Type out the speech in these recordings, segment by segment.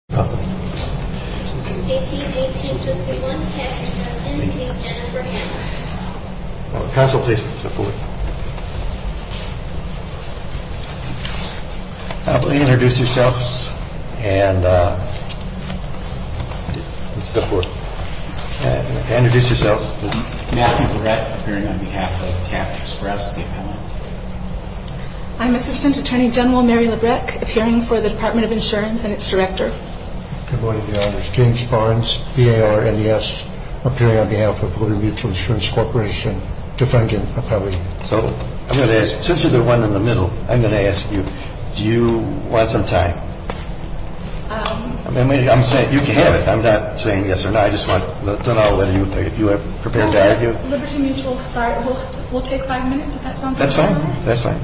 18-18-231, Capt. Express, Inc. v. Jennifer Hammer Matthew LeBrecht, appearing on behalf of Capt. Express, the appellant. I'm Assistant Attorney General Mary LeBrecht, appearing for the Department of Insurance and its director. Good morning, Your Honors. James Barnes, BAR, NES, appearing on behalf of Liberty Mutual Insurance Corporation, defendant, appellee. So, I'm going to ask, since you're the one in the middle, I'm going to ask you, do you want some time? I'm saying you can have it, I'm not saying yes or no, I just want to know whether you are prepared to argue. When Liberty Mutual will start, it will take five minutes, if that sounds fair? That's fine, that's fine.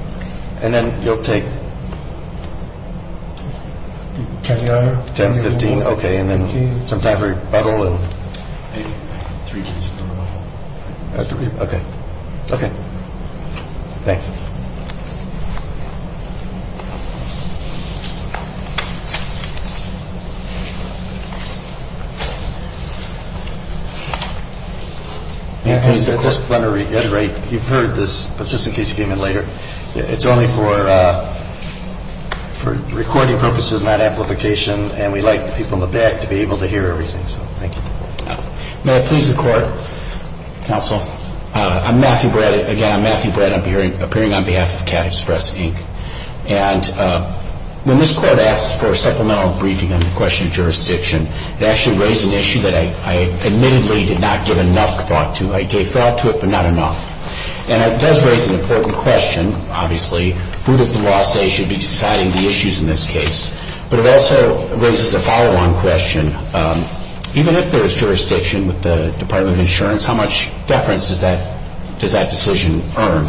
And then you'll take? Ten to fifteen. Ten to fifteen, okay, and then some time for rebuttal and? Three minutes. Okay, okay. Thank you. I just want to reiterate, you've heard this, but just in case you came in later, it's only for recording purposes, not amplification, and we like people in the back to be able to hear everything, so thank you. May it please the Court, Counsel, I'm Matthew Bradd, again, I'm Matthew Bradd, appearing on behalf of CAT Express, Inc., and when this Court asked for a supplemental briefing on the question of jurisdiction, it actually raised an issue that I admittedly did not give enough thought to. I gave thought to it, but not enough, and it does raise an important question, obviously, who does the law say should be deciding the issues in this case, but it also raises a follow-on question. Even if there is jurisdiction with the Department of Insurance, how much deference does that decision earn?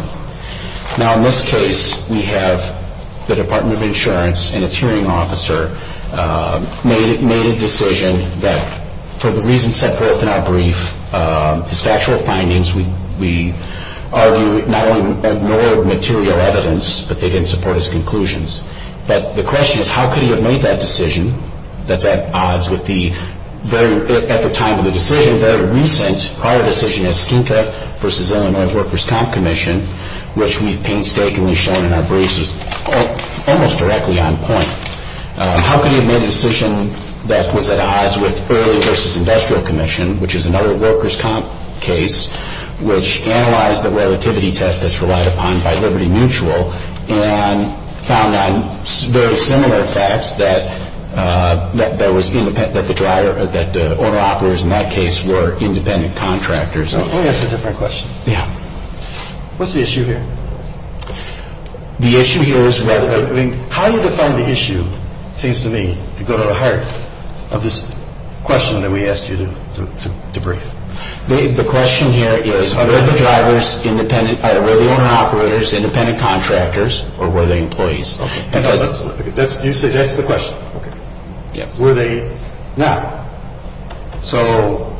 Now, in this case, we have the Department of Insurance and its hearing officer made a decision that, for the reasons set forth in our brief, his factual findings, we argue not only ignored material evidence, but they didn't support his conclusions. But the question is, how could he have made that decision that's at odds with the very, at the time of the decision, very recent prior decision as Skinka v. Illinois Workers' Comp Commission, which we painstakingly shown in our briefs is almost directly on point. How could he have made a decision that was at odds with Early v. Industrial Commission, which is another workers' comp case, which analyzed the relativity test that's relied upon by Liberty Mutual and found on very similar facts that there was independent, that the driver, that the owner-operators in that case were independent contractors. Let me ask a different question. Yeah. What's the issue here? The issue here is relative. I mean, how do you define the issue, it seems to me, to go to the heart of this question that we asked you to brief? The question here is, are the drivers independent, were the owner-operators independent contractors or were they employees? That's the question. Were they not? So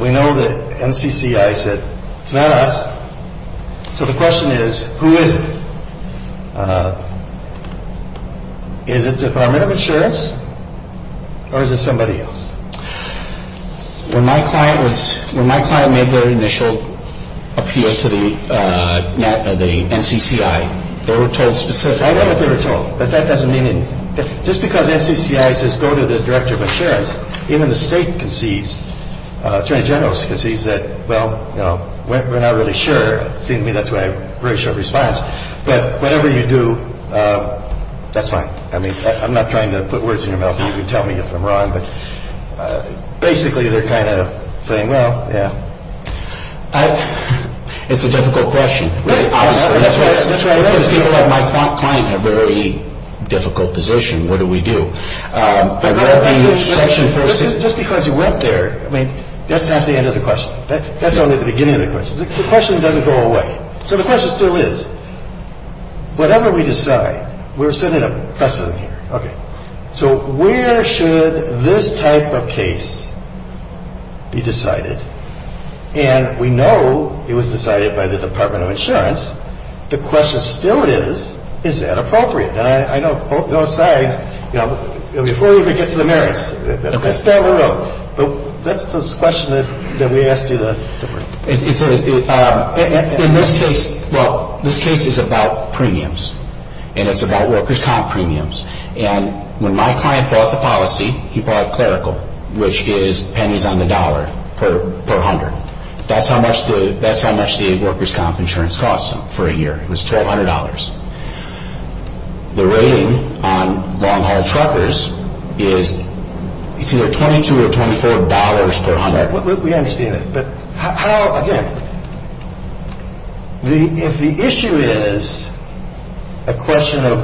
we know that NCCI said, it's not us. So the question is, who is it? Is it the Department of Insurance or is it somebody else? When my client made their initial appeal to the NCCI, they were told specifically. I don't know what they were told, but that doesn't mean anything. Just because NCCI says go to the Director of Insurance, even the state concedes, Attorney General concedes that, well, we're not really sure. It seems to me that's why I have a very short response. But whatever you do, that's fine. I mean, I'm not trying to put words in your mouth and you can tell me if I'm wrong, but basically they're kind of saying, well, yeah. It's a difficult question. Because people like my client have a very difficult position. What do we do? Just because you went there, I mean, that's not the end of the question. That's only the beginning of the question. The question doesn't go away. So the question still is, whatever we decide, we're sitting in a precedent here, okay. So where should this type of case be decided? And we know it was decided by the Department of Insurance. The question still is, is that appropriate? And I know both sides, you know, before we even get to the merits, let's down the road. That's the question that we asked you to bring. In this case, well, this case is about premiums. And it's about workers' comp premiums. And when my client bought the policy, he bought clerical, which is pennies on the dollar per hundred. That's how much the workers' comp insurance costs him for a year. It was $1,200. The rating on long-haul truckers is either $22 or $24 per hundred. All right, we understand that. But how, again, if the issue is a question of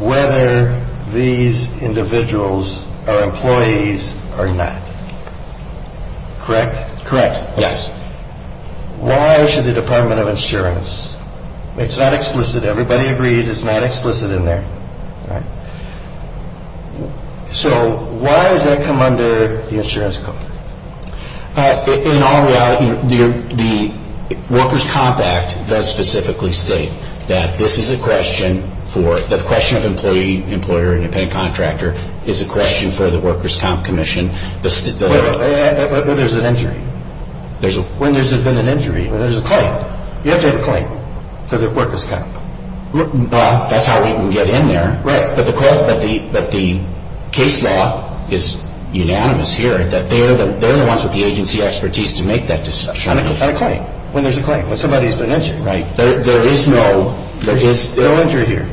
whether these individuals are employees or not, correct? Correct, yes. Why should the Department of Insurance? It's not explicit. Everybody agrees it's not explicit in there, right. So why does that come under the insurance code? In all reality, the Workers' Comp Act does specifically state that this is a question for, the question of employee, employer, independent contractor is a question for the Workers' Comp Commission. But there's an injury. When there's been an injury, there's a claim. You have to have a claim for the workers' comp. That's how we can get in there. Right. But the case law is unanimous here that they're the ones with the agency expertise to make that decision. On a claim. When there's a claim. When somebody's been injured. Right. There is no injury here.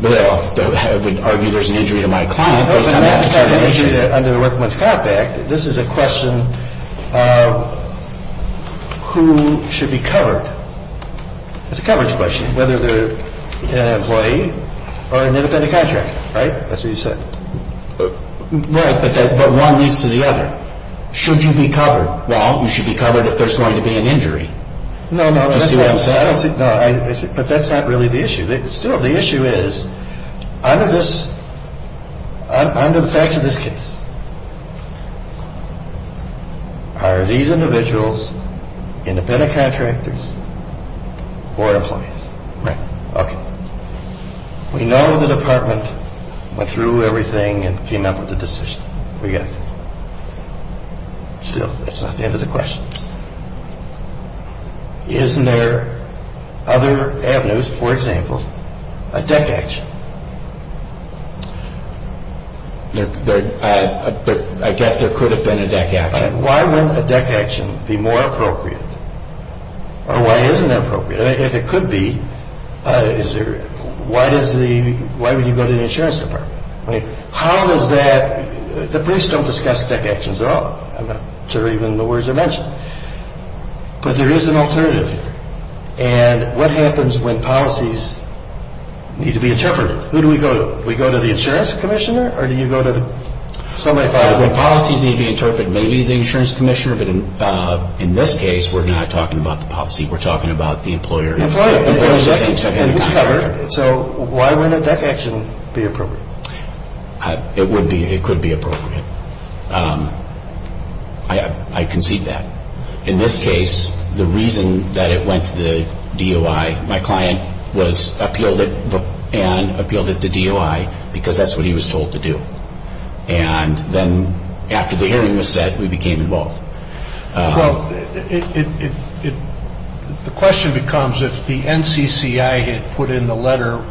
Well, I would argue there's an injury to my client, but it's not an injury. Under the Workers' Comp Act, this is a question of who should be covered. It's a coverage question. Whether they're an employee or an independent contractor, right? That's what you said. Right, but one leads to the other. Should you be covered? Well, you should be covered if there's going to be an injury. No, no, that's what I'm saying. But that's not really the issue. Still, the issue is, under the facts of this case, are these individuals independent contractors or employees? Right. Okay. We know the department went through everything and came up with the decision. We got it. Still, that's not the end of the question. Is there other avenues, for example, a deck action? I guess there could have been a deck action. Why wouldn't a deck action be more appropriate? Or why isn't it appropriate? If it could be, why would you go to the insurance department? How is that? The briefs don't discuss deck actions at all. I'm not sure even the words are mentioned. But there is an alternative. And what happens when policies need to be interpreted? Who do we go to? We go to the insurance commissioner, or do you go to somebody else? When policies need to be interpreted, maybe the insurance commissioner. But in this case, we're not talking about the policy. We're talking about the employer. So why wouldn't a deck action be appropriate? It would be. It could be appropriate. I concede that. In this case, the reason that it went to the DOI, my client appealed it and appealed it to DOI because that's what he was told to do. And then after the hearing was set, we became involved. Well, the question becomes if the NCCI had put in the letter,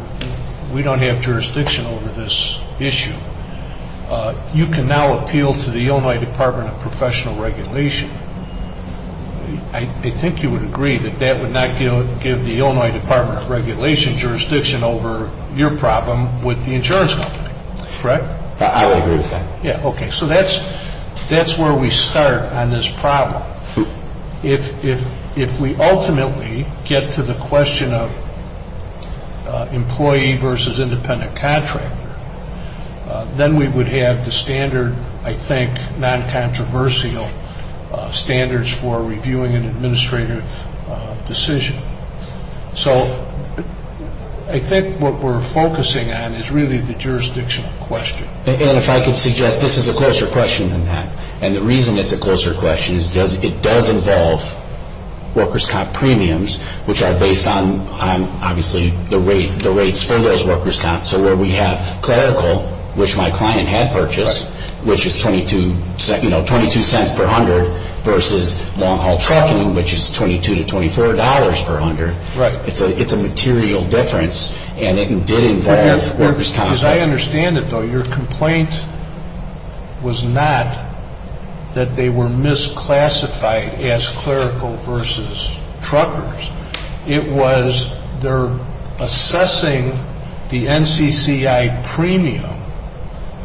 we don't have jurisdiction over this issue, you can now appeal to the Illinois Department of Professional Regulation. I think you would agree that that would not give the Illinois Department of Regulation jurisdiction over your problem with the insurance company, correct? I would agree with that. Yeah, okay. So that's where we start on this problem. If we ultimately get to the question of employee versus independent contractor, then we would have the standard, I think, non-controversial standards for reviewing an administrative decision. So I think what we're focusing on is really the jurisdictional question. And if I could suggest, this is a closer question than that. And the reason it's a closer question is it does involve workers' comp premiums, which are based on, obviously, the rates for those workers' comps. So where we have clerical, which my client had purchased, which is 22 cents per hundred, versus long-haul trucking, which is $22 to $24 per hundred. It's a material difference, and it did involve workers' comp. As I understand it, though, your complaint was not that they were misclassified as clerical versus truckers. It was they're assessing the NCCI premium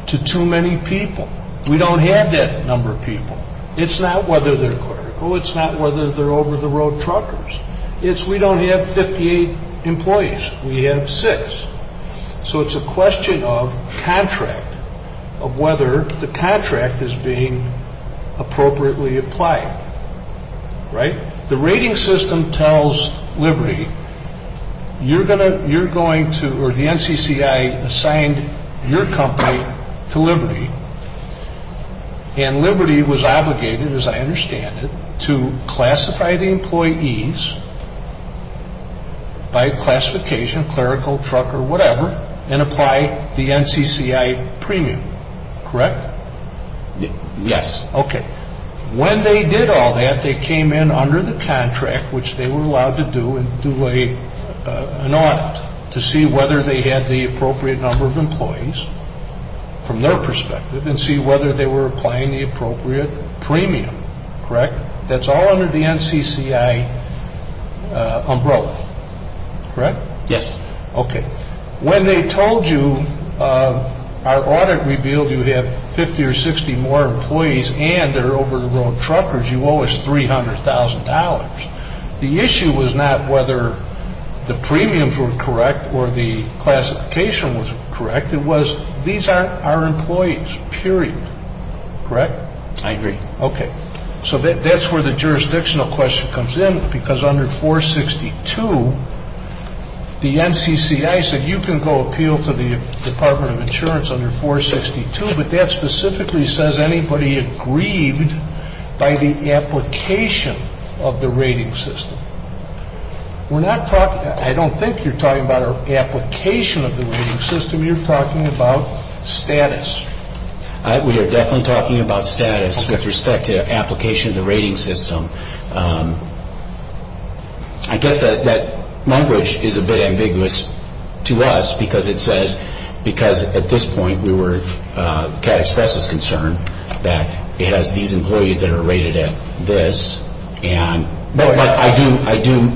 to too many people. We don't have that number of people. It's not whether they're clerical. It's not whether they're over-the-road truckers. It's we don't have 58 employees. We have six. So it's a question of contract, of whether the contract is being appropriately applied. The rating system tells Liberty, you're going to, or the NCCI assigned your company to Liberty, and Liberty was obligated, as I understand it, to classify the employees by classification, clerical, trucker, whatever, and apply the NCCI premium. Correct? Yes. Okay. When they did all that, they came in under the contract, which they were allowed to do, and do an audit to see whether they had the appropriate number of employees from their perspective, and see whether they were applying the appropriate premium. Correct? That's all under the NCCI umbrella. Correct? Yes. Okay. When they told you, our audit revealed you have 50 or 60 more employees, and they're over-the-road truckers, you owe us $300,000. The issue was not whether the premiums were correct or the classification was correct. It was, these are our employees, period. Correct? I agree. Okay. So that's where the jurisdictional question comes in, because under 462, the NCCI said, you can go appeal to the Department of Insurance under 462, but that specifically says anybody aggrieved by the application of the rating system. We're not talking, I don't think you're talking about an application of the rating system. You're talking about status. We are definitely talking about status with respect to application of the rating system. I guess that language is a bit ambiguous to us because it says, because at this point we were, CAT Express was concerned that it has these employees that are rated at this. But I do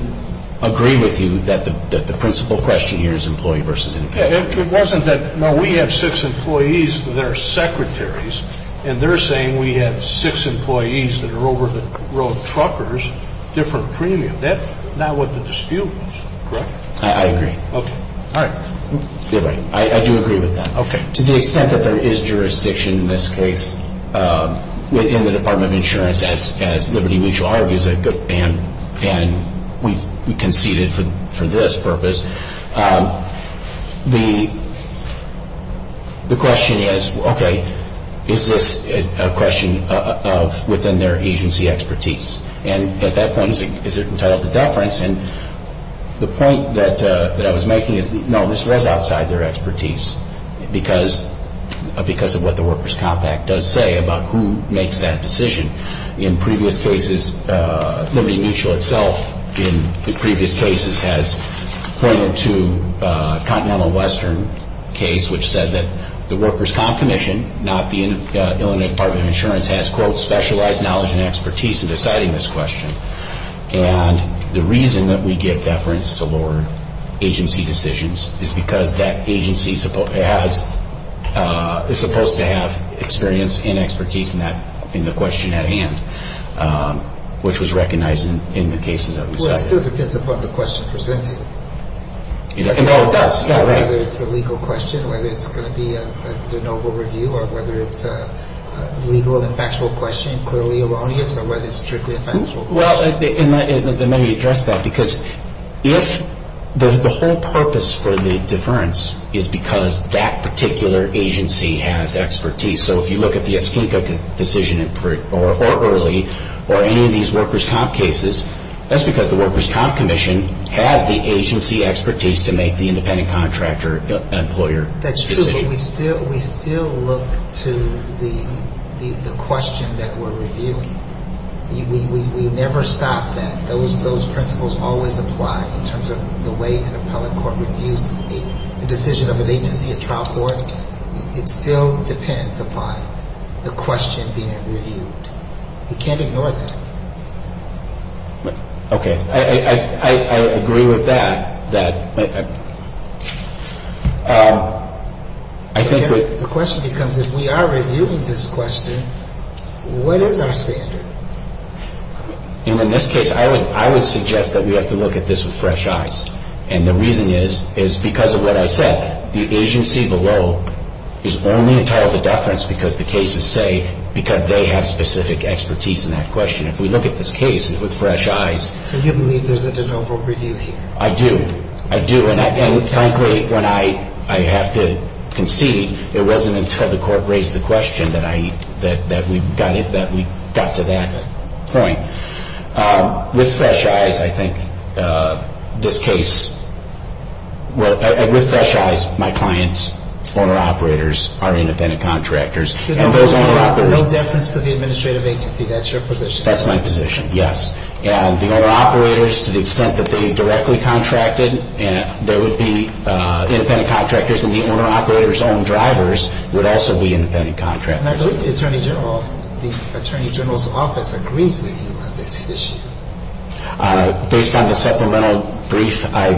agree with you that the principal question here is employee versus independent. It wasn't that, no, we have six employees that are secretaries, and they're saying we have six employees that are over-the-road truckers, different premium. That's not what the dispute was. Correct? I agree. Okay. All right. I do agree with that. To the extent that there is jurisdiction in this case within the Department of Insurance, as Liberty Mutual argues, and we conceded for this purpose, the question is, okay, is this a question of within their agency expertise? And at that point, is it entitled to deference? And the point that I was making is, no, this was outside their expertise because of what the Workers' Comp Act does say about who makes that decision. In previous cases, Liberty Mutual itself in the previous cases has pointed to a Continental Western case which said that the Workers' Comp Commission, not the Illinois Department of Insurance, has, quote, specialized knowledge and expertise in deciding this question. And the reason that we give deference to lower agency decisions is because that agency is supposed to have experience and expertise in the question at hand, which was recognized in the cases that we cited. Well, it still depends upon the question presented. It does. Whether it's a legal question, whether it's going to be a de novo review, or whether it's a legal and factual question, clearly erroneous, or whether it's strictly a factual question. Well, let me address that. Because if the whole purpose for the deference is because that particular agency has expertise, so if you look at the Eskinca decision or early or any of these Workers' Comp cases, that's because the Workers' Comp Commission has the agency expertise to make the independent contractor employer decision. We still look to the question that we're reviewing. We never stop that. Those principles always apply in terms of the way an appellate court reviews a decision of an agency, a trial court. It still depends upon the question being reviewed. We can't ignore that. Okay. I agree with that. I think that the question becomes if we are reviewing this question, what is our standard? In this case, I would suggest that we have to look at this with fresh eyes. And the reason is because of what I said. The agency below is only entitled to deference because the cases say because they have specific expertise in that question. If we look at this case with fresh eyes. So you believe there's a de novo review here? I do. I do. And, frankly, when I have to concede, it wasn't until the court raised the question that we got to that point. With fresh eyes, I think this case, with fresh eyes, my clients, former operators, are independent contractors. No deference to the administrative agency. That's your position. That's my position, yes. And the owner-operators, to the extent that they directly contracted, there would be independent contractors. And the owner-operators' own drivers would also be independent contractors. And I believe the Attorney General's office agrees with you on this issue. Based on the supplemental brief, I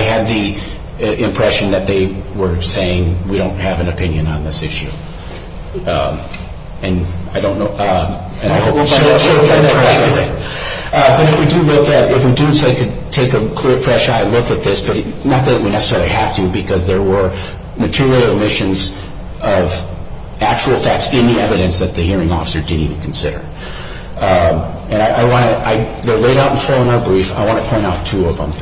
had the impression that they were saying, we don't have an opinion on this issue. And I don't know. But if we do look at it, if we do take a clear, fresh eye look at this, not that we necessarily have to because there were material omissions of actual facts in the evidence that the hearing officer didn't even consider. And I want to, they're laid out before in our brief. I want to point out two of them.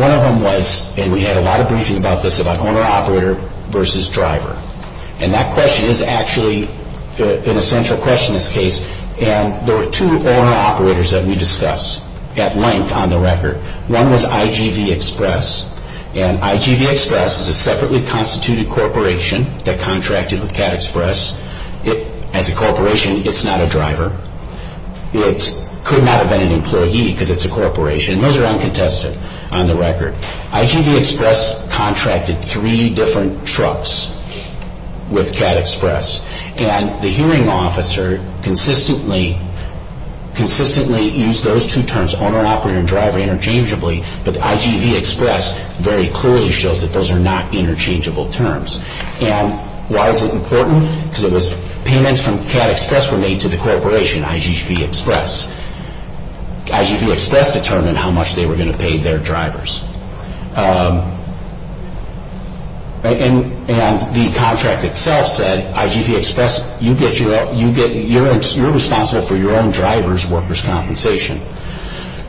One of them was, and we had a lot of briefing about this, about owner-operator versus driver. And that question is actually an essential question in this case. And there were two owner-operators that we discussed at length on the record. One was IGV Express. And IGV Express is a separately constituted corporation that contracted with CAT Express. As a corporation, it's not a driver. It could not have been an employee because it's a corporation. And those are uncontested on the record. IGV Express contracted three different trucks with CAT Express. And the hearing officer consistently used those two terms, owner-operator and driver, interchangeably. But the IGV Express very clearly shows that those are not interchangeable terms. And why is it important? Because payments from CAT Express were made to the corporation, IGV Express. IGV Express determined how much they were going to pay their drivers. And the contract itself said, IGV Express, you're responsible for your own driver's workers' compensation.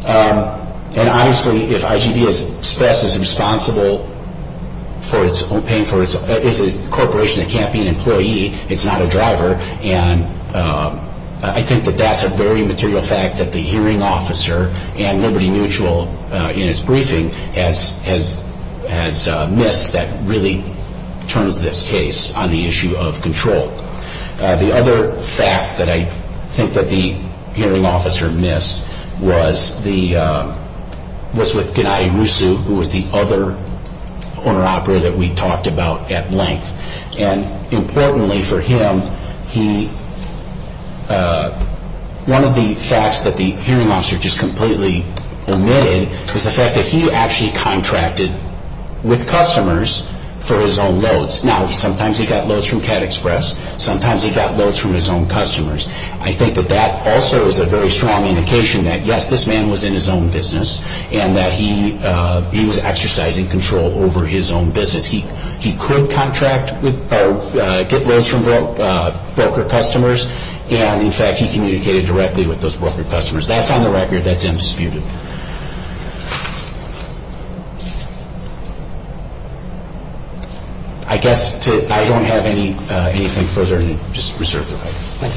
And obviously, if IGV Express is responsible for paying for its own, it's a corporation that can't be an employee. It's not a driver. And I think that that's a very material fact that the hearing officer and Liberty Mutual in its briefing has missed that really turns this case on the issue of control. The other fact that I think that the hearing officer missed was with Gennady Rusu, who was the other owner-operator that we talked about at length. And importantly for him, one of the facts that the hearing officer just completely omitted is the fact that he actually contracted with customers for his own loads. Now, sometimes he got loads from CAT Express. Sometimes he got loads from his own customers. I think that that also is a very strong indication that, yes, this man was in his own business and that he was exercising control over his own business. He could get loads from broker customers. And, in fact, he communicated directly with those broker customers. That's on the record. That's undisputed. I guess I don't have anything further to just reserve the right.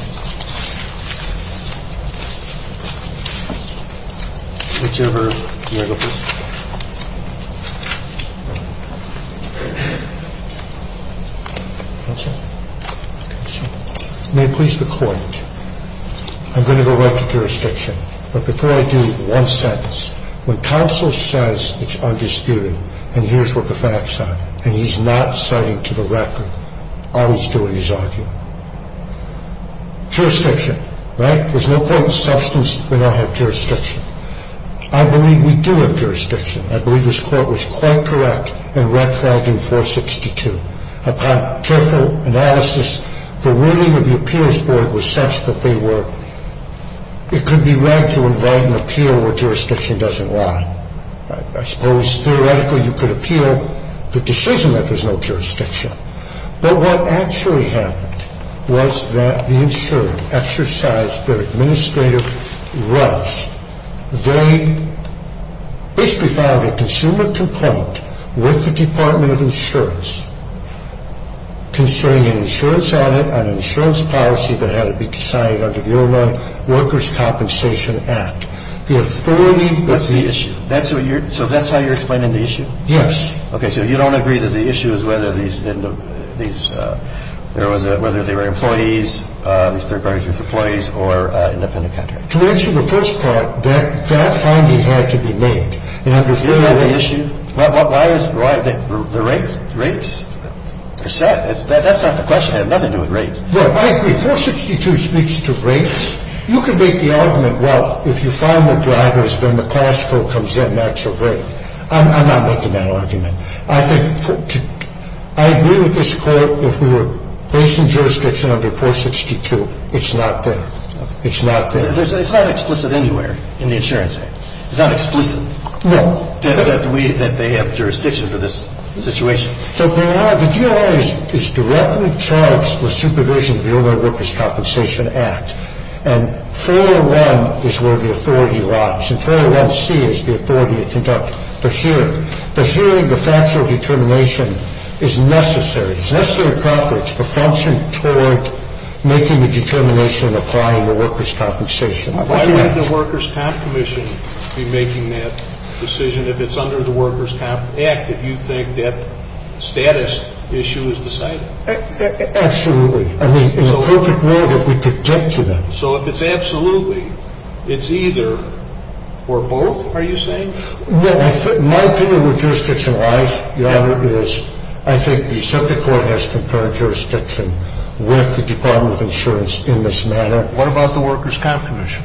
Thank you. Whichever. May I please record? I'm going to go right to jurisdiction. But before I do, one sentence. When counsel says it's undisputed and here's what the facts are and he's not citing to the record, all he's doing is arguing. Jurisdiction, right? There's no quoting substance. We don't have jurisdiction. I believe we do have jurisdiction. I believe this court was quite correct in Rett-Fragging 462. Upon careful analysis, the wording of the appeals board was such that they were it could be read to invite an appeal where jurisdiction doesn't lie. I suppose, theoretically, you could appeal the decision that there's no jurisdiction. But what actually happened was that the insured exercised their administrative rights. They basically filed a consumer complaint with the Department of Insurance concerning an insurance policy that had to be signed under the Illinois Workers' Compensation Act. And the court ruled that the insurance policy had to be signed under the Illinois Workers' Compensation Act. And the court ruled that the insurance policy had to be signed under the Illinois Workers' Compensation Act. The authority of the issue. So that's how you're explaining the issue? Yes. Okay. So you don't agree that the issue is whether these there was a whether they were employees, these third-party employees or independent contractors? To answer the first part, that finding had to be made. You don't know the issue? Why is the rate? Rates? Percent? That's not the question. I have nothing to do with rates. Well, I agree. 462 speaks to rates. You could make the argument, well, if you file more drivers, then the class code comes in. That's a rate. I'm not making that argument. I think I agree with this court. If we were based in jurisdiction under 462, it's not there. It's not there. It's not explicit anywhere in the insurance act. It's not explicit that they have jurisdiction for this situation. The DOI is directly charged with supervision of the Illinois Workers' Compensation Act. And 401 is where the authority lies. And 401C is the authority to conduct the hearing. The hearing, the factual determination is necessary. The function toward making the determination and applying the workers' compensation. Why would the workers' comp commission be making that decision if it's under the workers' comp act, if you think that status issue is decided? Absolutely. I mean, in a perfect world, if we could get to that. So if it's absolutely, it's either or both, are you saying? Well, my opinion with jurisdiction-wise, Your Honor, is I think the subject court has concurred jurisdiction with the Department of Insurance in this matter. What about the workers' comp commission?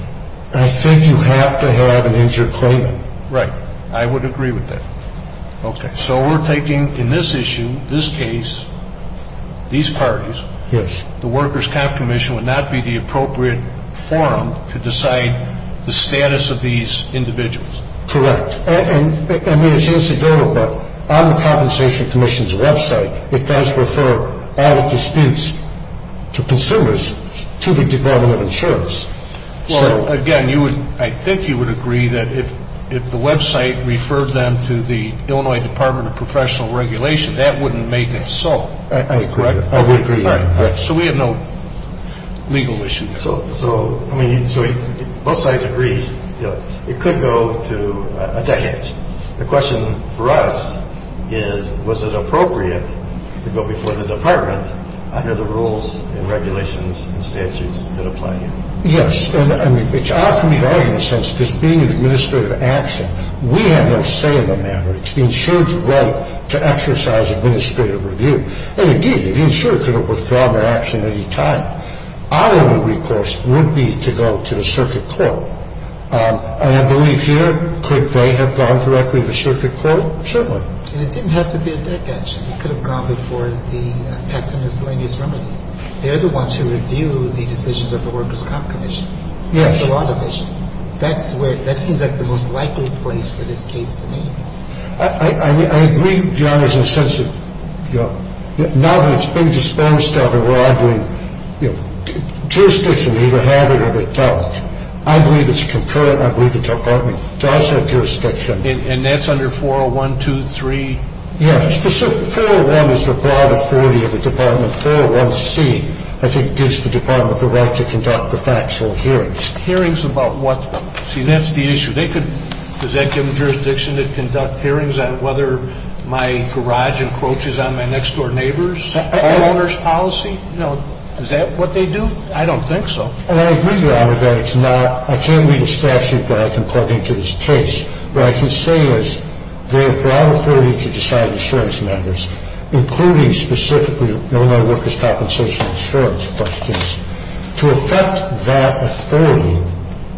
I think you have to have an injured claimant. Right. I would agree with that. Okay. So we're taking in this issue, this case, these parties. Yes. The workers' comp commission would not be the appropriate forum to decide the status of these individuals. Correct. I mean, it's incidental, but on the compensation commission's website, it does refer all disputes to consumers to the Department of Insurance. Well, again, I think you would agree that if the website referred them to the Illinois Department of Professional Regulation, that wouldn't make it so. I agree. I would agree. So we have no legal issue. So, I mean, both sides agree, you know, it could go to a damage. The question for us is was it appropriate to go before the Department under the rules and regulations and statutes that apply here? Yes. I mean, it's odd for me to argue in the sense because being an administrative action, we have no say in the matter. It's the insurer's right to exercise administrative review. And it did. The insurer could have withdrawn their action at any time. Our only request would be to go to the circuit court. And I believe here, could they have gone directly to the circuit court? Certainly. And it didn't have to be a deck action. It could have gone before the tax and miscellaneous remedies. They're the ones who review the decisions of the workers' comp commission. Yes. That's the law division. That seems like the most likely place for this case to be. I agree, Your Honor, in the sense that now that it's been disposed of and it's under 401, I believe that jurisdiction either have it or they don't. I believe it's concurrent. I believe the Department does have jurisdiction. And that's under 401, 2, 3? Yes. 401 is the broad authority of the Department. 401C, I think, gives the Department the right to conduct the factual hearings. Hearings about what? See, that's the issue. Does that give them jurisdiction to conduct hearings on whether my garage encroaches on my next-door neighbor's homeowner's policy? No. Is that what they do? I don't think so. And I agree, Your Honor, that it's not – I can't read the statute, but I can plug into this case. What I can say is they have broad authority to decide insurance matters, including specifically Illinois workers' compensation insurance questions. To affect that authority,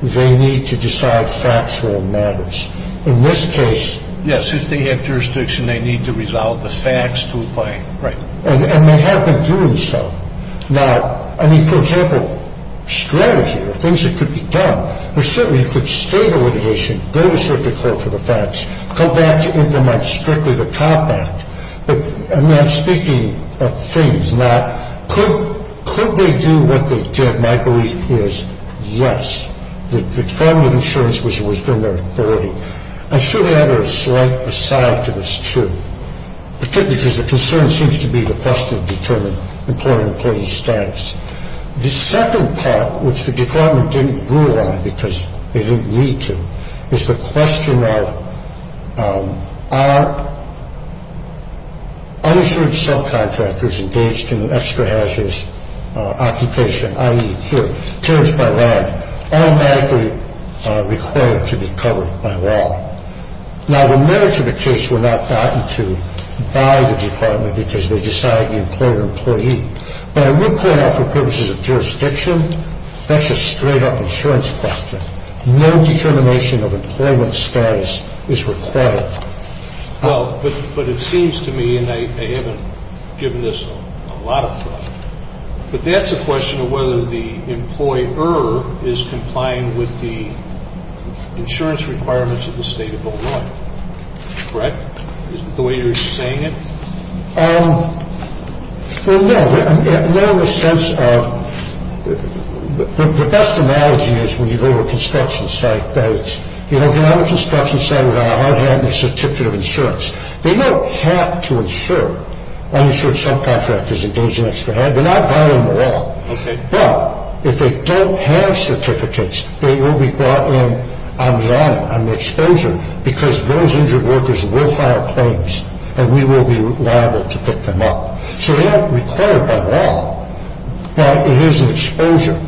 they need to decide factual matters. In this case – Yes. If they have jurisdiction, they need to resolve the facts to a point. Right. And they have been doing so. Now, I mean, for example, strategy or things that could be done. Well, certainly you could state a litigation, go to circuit court for the facts, come back to implement strictly the Comp Act. But, I mean, I'm speaking of things. Now, could they do what they did? My belief is yes. The Department of Insurance was within their authority. I should add a slight aside to this, too. Particularly because the concern seems to be the cost of determining employer-employee status. The second part, which the Department didn't rule on because they didn't need to, is the question of are uninsured subcontractors engaged in an extra-hazardous occupation, i.e., here, carriage-by-ride, automatically required to be covered by law? Now, the merits of the case were not gotten to by the Department because they decided the employer-employee. But I will point out for purposes of jurisdiction, that's a straight-up insurance question. No determination of employment status is required. Well, but it seems to me, and I haven't given this a lot of thought, but that's a question of whether the employer is complying with the insurance requirements of the state of Illinois. Correct? Is that the way you're saying it? Well, no. No, in the sense of the best analogy is when you go to a construction site that it's, you know, they're not a construction site without a hard-handed certificate of insurance. They don't have to insure uninsured subcontractors engaged in extra-hazard. They're not violating the law. Okay. But if they don't have certificates, they will be brought in on the honor, on the exposure, because those injured workers will file claims and we will be liable to pick them up. So they aren't required by law, but it is an exposure.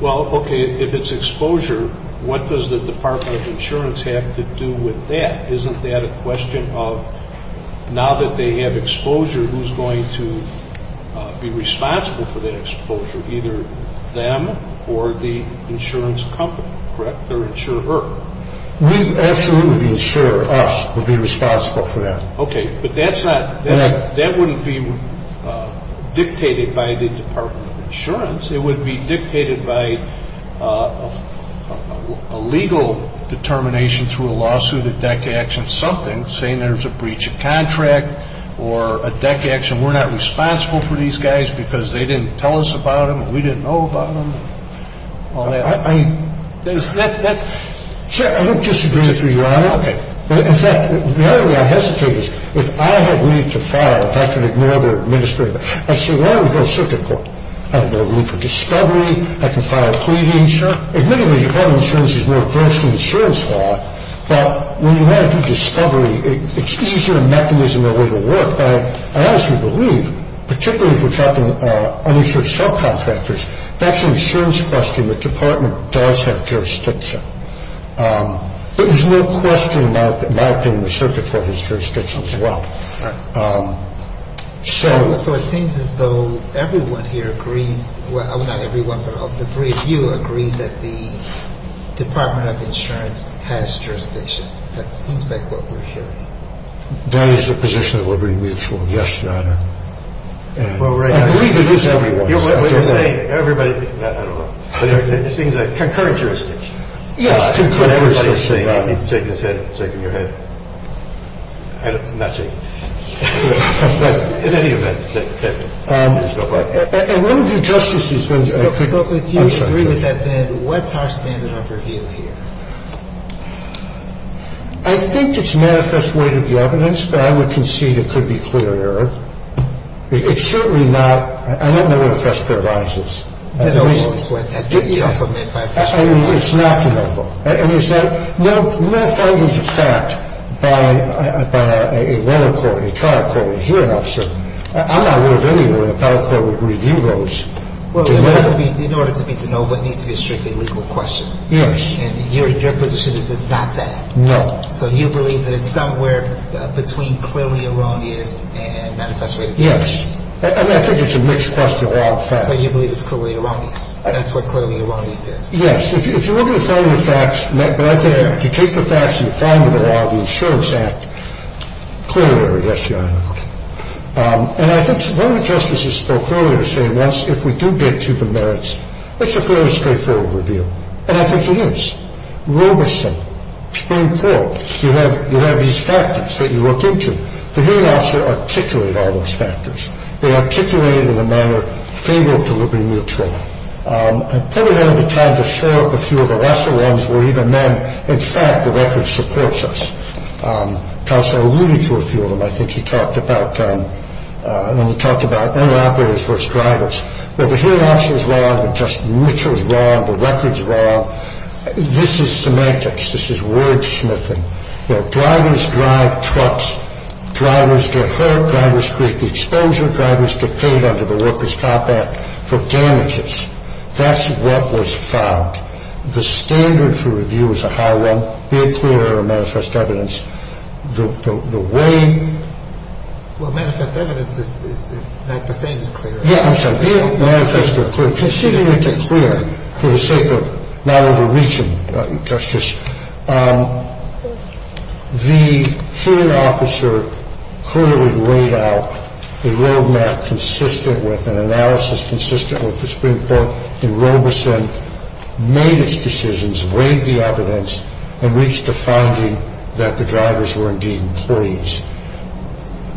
Well, okay, if it's exposure, what does the Department of Insurance have to do with that? Isn't that a question of now that they have exposure, who's going to be responsible for that exposure, either them or the insurance company? Correct? Their insurer. We absolutely insure us will be responsible for that. Okay. But that's not, that wouldn't be dictated by the Department of Insurance. It would be dictated by a legal determination through a lawsuit, a deck action, something saying there's a breach of contract or a deck action, we're not responsible for these guys because they didn't tell us about them, we didn't know about them, all that. I don't disagree with you, Your Honor. Okay. In fact, the other way I hesitate is if I had leave to file, if I can ignore the administrative, I say, why don't we go to circuit court? I have no need for discovery, I can file a pleading. Admittedly, the Department of Insurance is more versed in insurance law, but when you want to do discovery, it's easier a mechanism or way to work. But I honestly believe, particularly if we're talking uninsured subcontractors, that's an insurance question, the Department does have jurisdiction. There's no question in my opinion the circuit court has jurisdiction as well. Right. So it seems as though everyone here agrees, well, not everyone, but of the three of you agree that the Department of Insurance has jurisdiction. That seems like what we're hearing. That is the position of Liberty Mutual. Yes, Your Honor. I agree with everyone. What you're saying, everybody, I don't know. It seems like concurrent jurisdiction. Yes, concurrent jurisdiction. No findings of fact by a lower court, a trial court, a hearing officer, I'm not aware of anywhere a battle court would review those. Well, in order for me to know, it needs to be a strictly legal question. Yes. And your position is it's not that. No. So you believe that it's somewhere between clearly erroneous and manifestly erroneous. Yes. I mean, I think it's a mixed question of all facts. So you believe it's clearly erroneous. That's what clearly erroneous is. Yes. If you look at the finding of facts right there, you take the facts and you apply them to the law of the Insurance Act, clearly erroneous, Your Honor. And I think one of the justices who spoke earlier said once if we do get to the merits, it's a fairly straightforward review. And I think it is. Robeson, Supreme Court, you have these factors that you look into. The hearing officer articulated all those factors. They articulated it in a manner favorable to Liberty Mutual. I probably don't have the time to show a few of the lesser ones where even then, in fact, the record supports us. Tulsa alluded to a few of them. I think he talked about interoperators versus drivers. But the hearing officer is wrong. The Justice Mutual is wrong. The record is wrong. This is semantics. This is wordsmithing. You know, drivers drive trucks. Drivers get hurt. Drivers create the expenditure. Drivers get paid under the Workers' Compact for damages. That's what was found. The standard for review is a high one, be it clear or manifest evidence. The way… Well, manifest evidence is not the same as clear. Yeah, I'm sorry. Be it manifest or clear. Considering it's a clear, for the sake of not overreaching, Justice, the hearing officer clearly laid out a roadmap consistent with an analysis consistent with the Supreme Court, and Robeson made his decisions, weighed the evidence, and reached a finding that the drivers were indeed employees.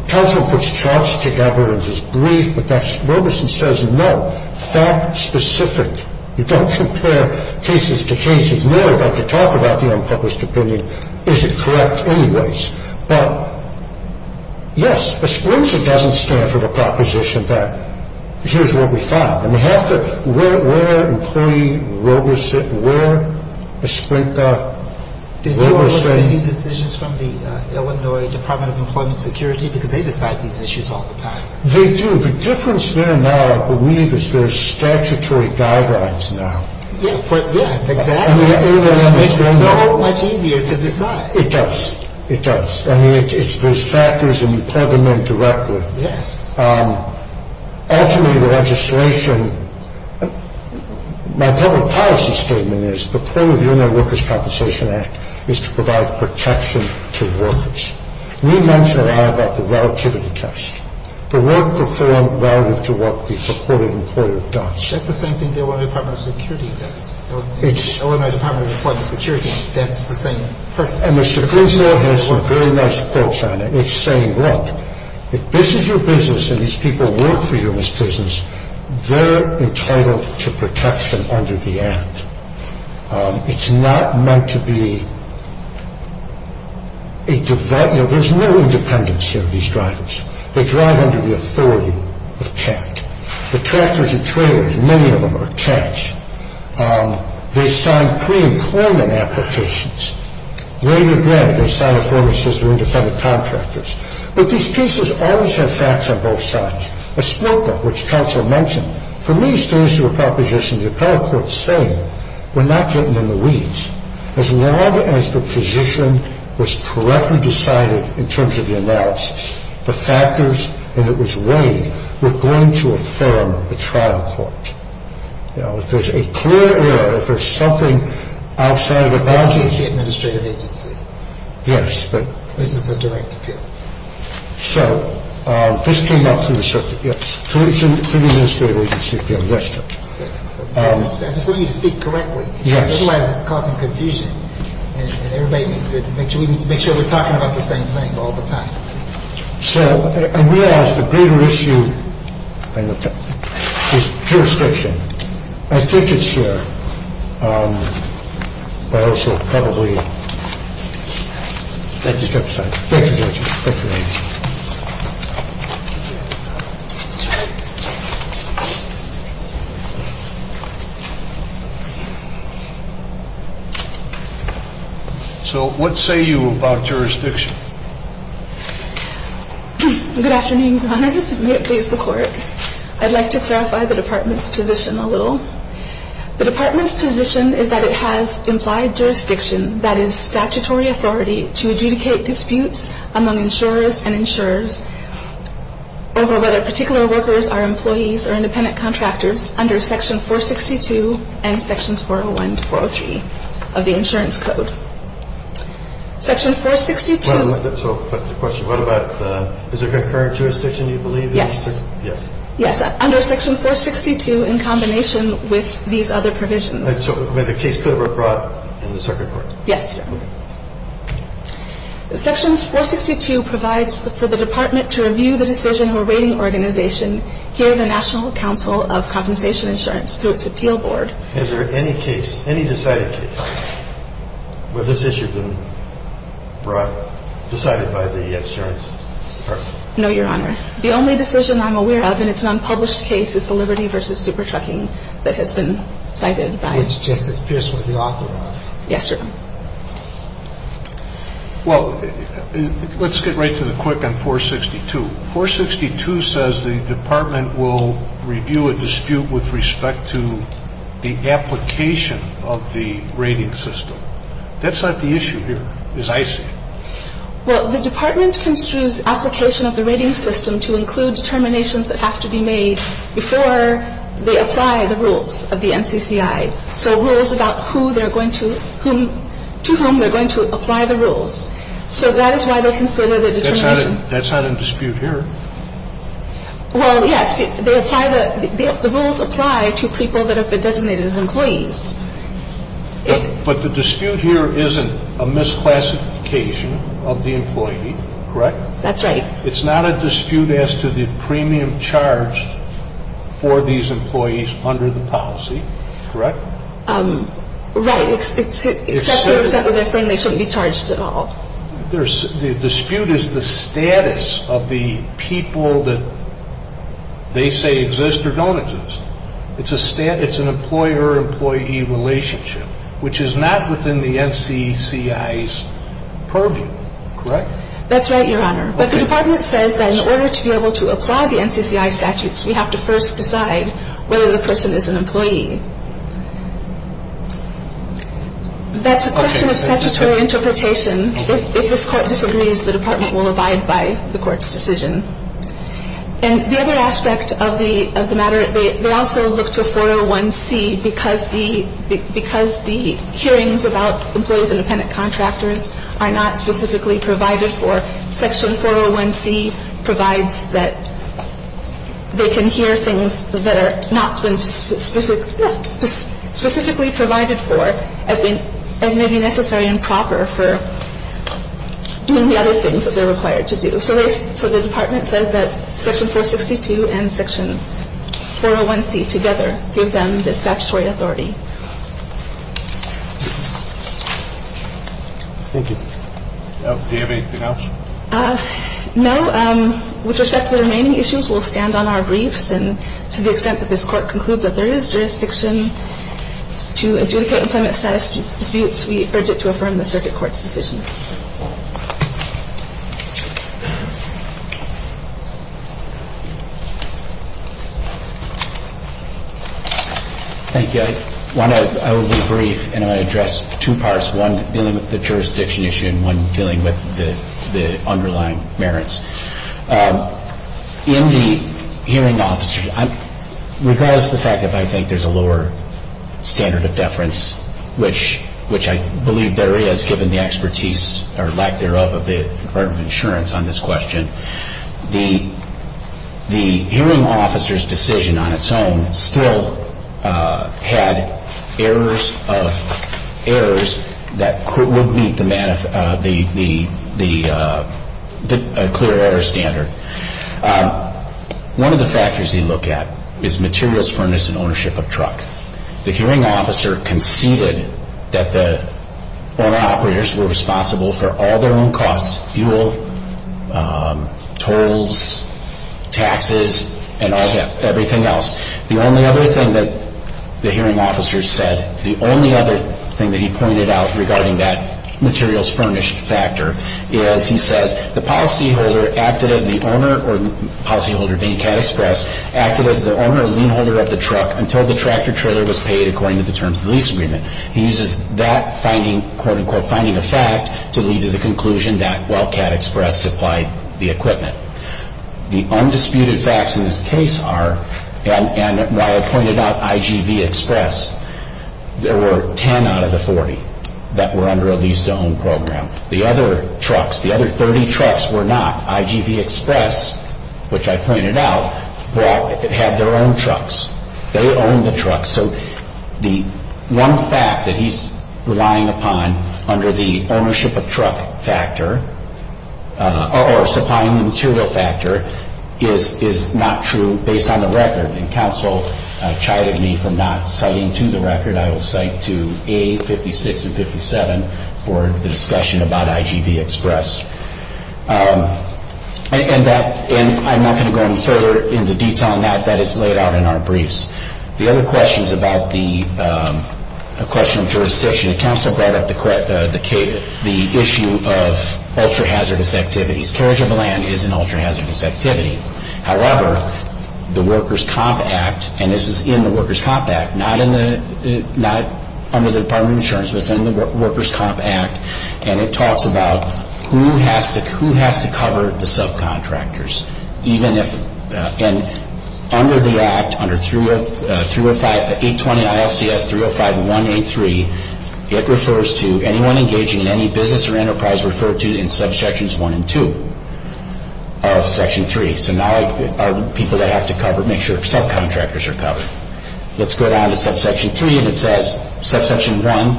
Tulsa puts charts together and is brief, but Robeson says, no, fact-specific. You don't compare cases to cases. He says, no, if I could talk about the unpublished opinion, is it correct anyways? But, yes, ESPRINCA doesn't stand for the proposition that here's what we found. I mean, where employee Robeson, where ESPRINCA Robeson… Did you ever take decisions from the Illinois Department of Employment Security because they decide these issues all the time? They do. The difference there now, I believe, is there's statutory guidelines now. Yeah, exactly. It makes it so much easier to decide. It does. It does. I mean, there's factors, and you plug them in directly. Yes. Ultimately, the legislation… My public policy statement is the point of the Illinois Workers' Compensation Act is to provide protection to workers. We mention a lot about the relativity test. The work performed relative to what the reported employer does. That's the same thing the Illinois Department of Security does. Illinois Department of Employment Security, that's the same purpose. And ESPRINCA has some very nice quotes on it. It's saying, look, if this is your business and these people work for you in this business, they're entitled to protection under the act. It's not meant to be… There's no independence here of these drivers. They drive under the authority of CHAT. The tractors and trailers, many of them are CHAT. They sign pre-employment applications. Lady of Red, they sign a form that says they're independent contractors. But these cases always have facts on both sides. ESPRINCA, which counsel mentioned, for me, stands to a proposition the appellate court's saying we're not getting in the weeds. As long as the position was correctly decided in terms of the analysis, the factors and it was weighed, we're going to affirm the trial court. If there's a clear error, if there's something outside of the boundaries… This is the administrative agency. Yes. This is a direct appeal. So this came up through the circuit, yes, through the administrative agency appeal. I just want you to speak correctly. Yes. Otherwise it's causing confusion. And everybody needs to make sure we're talking about the same thing all the time. So I realize the greater issue is pure friction. I think it's here. Thank you, Judge. Thank you, Judge. Thank you. So what say you about jurisdiction? Good afternoon, Your Honor. This is Juliette D'Azur with the court. I'd like to clarify the department's position a little. The department's position is that it has implied jurisdiction, that is statutory authority, to adjudicate disputes among insurers and insurers over whether particular workers are employees or independent contractors under Section 462 and Sections 401 to 403 of the Insurance Code. Section 462… So the question, what about the… Is there concurrent jurisdiction, you believe? Yes. Yes. Under Section 462 in combination with these other provisions. So the case could have been brought in the circuit court? Yes. Okay. Section 462 provides for the department to review the decision or rating organization here at the National Council of Compensation Insurance through its appeal board. Is there any case, any decided case, where this issue has been brought, decided by the insurance department? No, Your Honor. The only decision I'm aware of, and it's an unpublished case, is the Liberty v. Super Trucking that has been cited by… Which Justice Pierce was the author of. Yes, Your Honor. Well, let's get right to the quick on 462. 462 says the department will review a dispute with respect to the application of the rating system. That's not the issue here, as I see it. Well, the department construes application of the rating system to include determinations that have to be made before they apply the rules of the NCCI. So rules about who they're going to, whom, to whom they're going to apply the rules. So that is why they consider the determination. That's not in dispute here. Well, yes. They apply the, the rules apply to people that have been designated as employees. But the dispute here isn't a misclassification of the employee. Correct? That's right. It's not a dispute as to the premium charged for these employees under the policy. Correct? Right. Except for the set where they're saying they shouldn't be charged at all. The dispute is the status of the people that they say exist or don't exist. It's an employer-employee relationship, which is not within the NCCI's purview. Correct? That's right, Your Honor. But the department says that in order to be able to apply the NCCI statutes, we have to first decide whether the person is an employee. That's a question of statutory interpretation. If this court disagrees, the department will abide by the court's decision. And the other aspect of the matter, they also look to 401C because the hearings about employees and dependent contractors are not specifically provided for. Section 401C provides that they can hear things that are not specifically provided for as may be necessary and proper for doing the other things that they're required to do. So the department says that Section 462 and Section 401C together give them the statutory authority. Thank you. Do you have anything else? No. With respect to the remaining issues, we'll stand on our briefs. And to the extent that this court concludes that there is jurisdiction to adjudicate employment status disputes, we urge it to affirm the circuit court's decision. Thank you. I want to be brief, and I want to address two parts, one dealing with the jurisdiction issue and one dealing with the underlying merits. In the hearing, regardless of the fact that I think there's a lower standard of deference, which I believe there is given the expertise or lack thereof of the Department of Insurance on this question, the hearing officer's decision on its own still had errors that would meet the clear error standard. One of the factors you look at is materials, furnace, and ownership of truck. The hearing officer conceded that the owner-operators were responsible for all their own costs, fuel, tolls, taxes, and everything else. The only other thing that the hearing officer said, the only other thing that he pointed out regarding that materials-furnished factor, is he says the policyholder acted as the owner, or policyholder being Cad Express, acted as the owner or leanholder of the truck until the tractor-trailer was paid according to the terms of the lease agreement. He uses that finding, quote-unquote, finding of fact, to lead to the conclusion that while Cad Express supplied the equipment. The undisputed facts in this case are, and why I pointed out IGV Express, there were 10 out of the 40 that were under a lease-to-own program. The other trucks, the other 30 trucks were not. IGV Express, which I pointed out, had their own trucks. They owned the trucks. So the one fact that he's relying upon under the ownership of truck factor, or supplying the material factor, is not true based on the record. And counsel chided me for not citing to the record. I will cite to A56 and 57 for the discussion about IGV Express. And I'm not going to go any further into detail on that. That is laid out in our briefs. The other question is about the question of jurisdiction. Counsel brought up the issue of ultra-hazardous activities. Carriage of land is an ultra-hazardous activity. However, the Workers' Comp Act, and this is in the Workers' Comp Act, not under the Department of Insurance, but it's in the Workers' Comp Act, and it talks about who has to cover the subcontractors. And under the act, under 320-820-ILCS-305-183, it refers to anyone engaging in any business or enterprise referred to in subsections 1 and 2 of section 3. So now people that have to cover, make sure subcontractors are covered. Let's go down to subsection 3, and it says, subsection 1,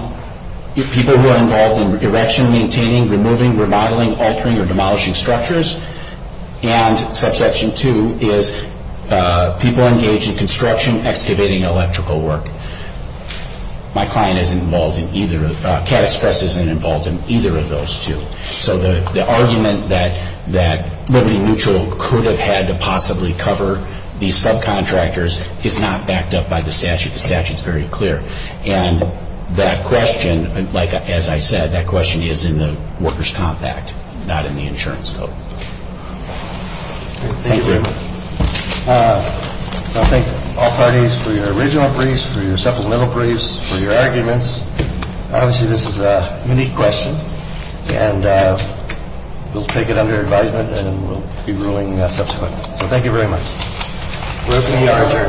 people who are involved in erection, maintaining, removing, remodeling, altering, or demolishing structures. And subsection 2 is people engaged in construction, excavating, electrical work. My client isn't involved in either of those. CAT Express isn't involved in either of those two. So the argument that Liberty Mutual could have had to possibly cover these subcontractors is not backed up by the statute. The statute is very clear. And that question, as I said, that question is in the Workers' Comp Act, not in the insurance code. Thank you. I thank all parties for your original briefs, for your supplemental briefs, for your arguments. Obviously, this is a unique question, and we'll take it under advisement, and we'll be ruling subsequently. So thank you very much. We're open to the argument.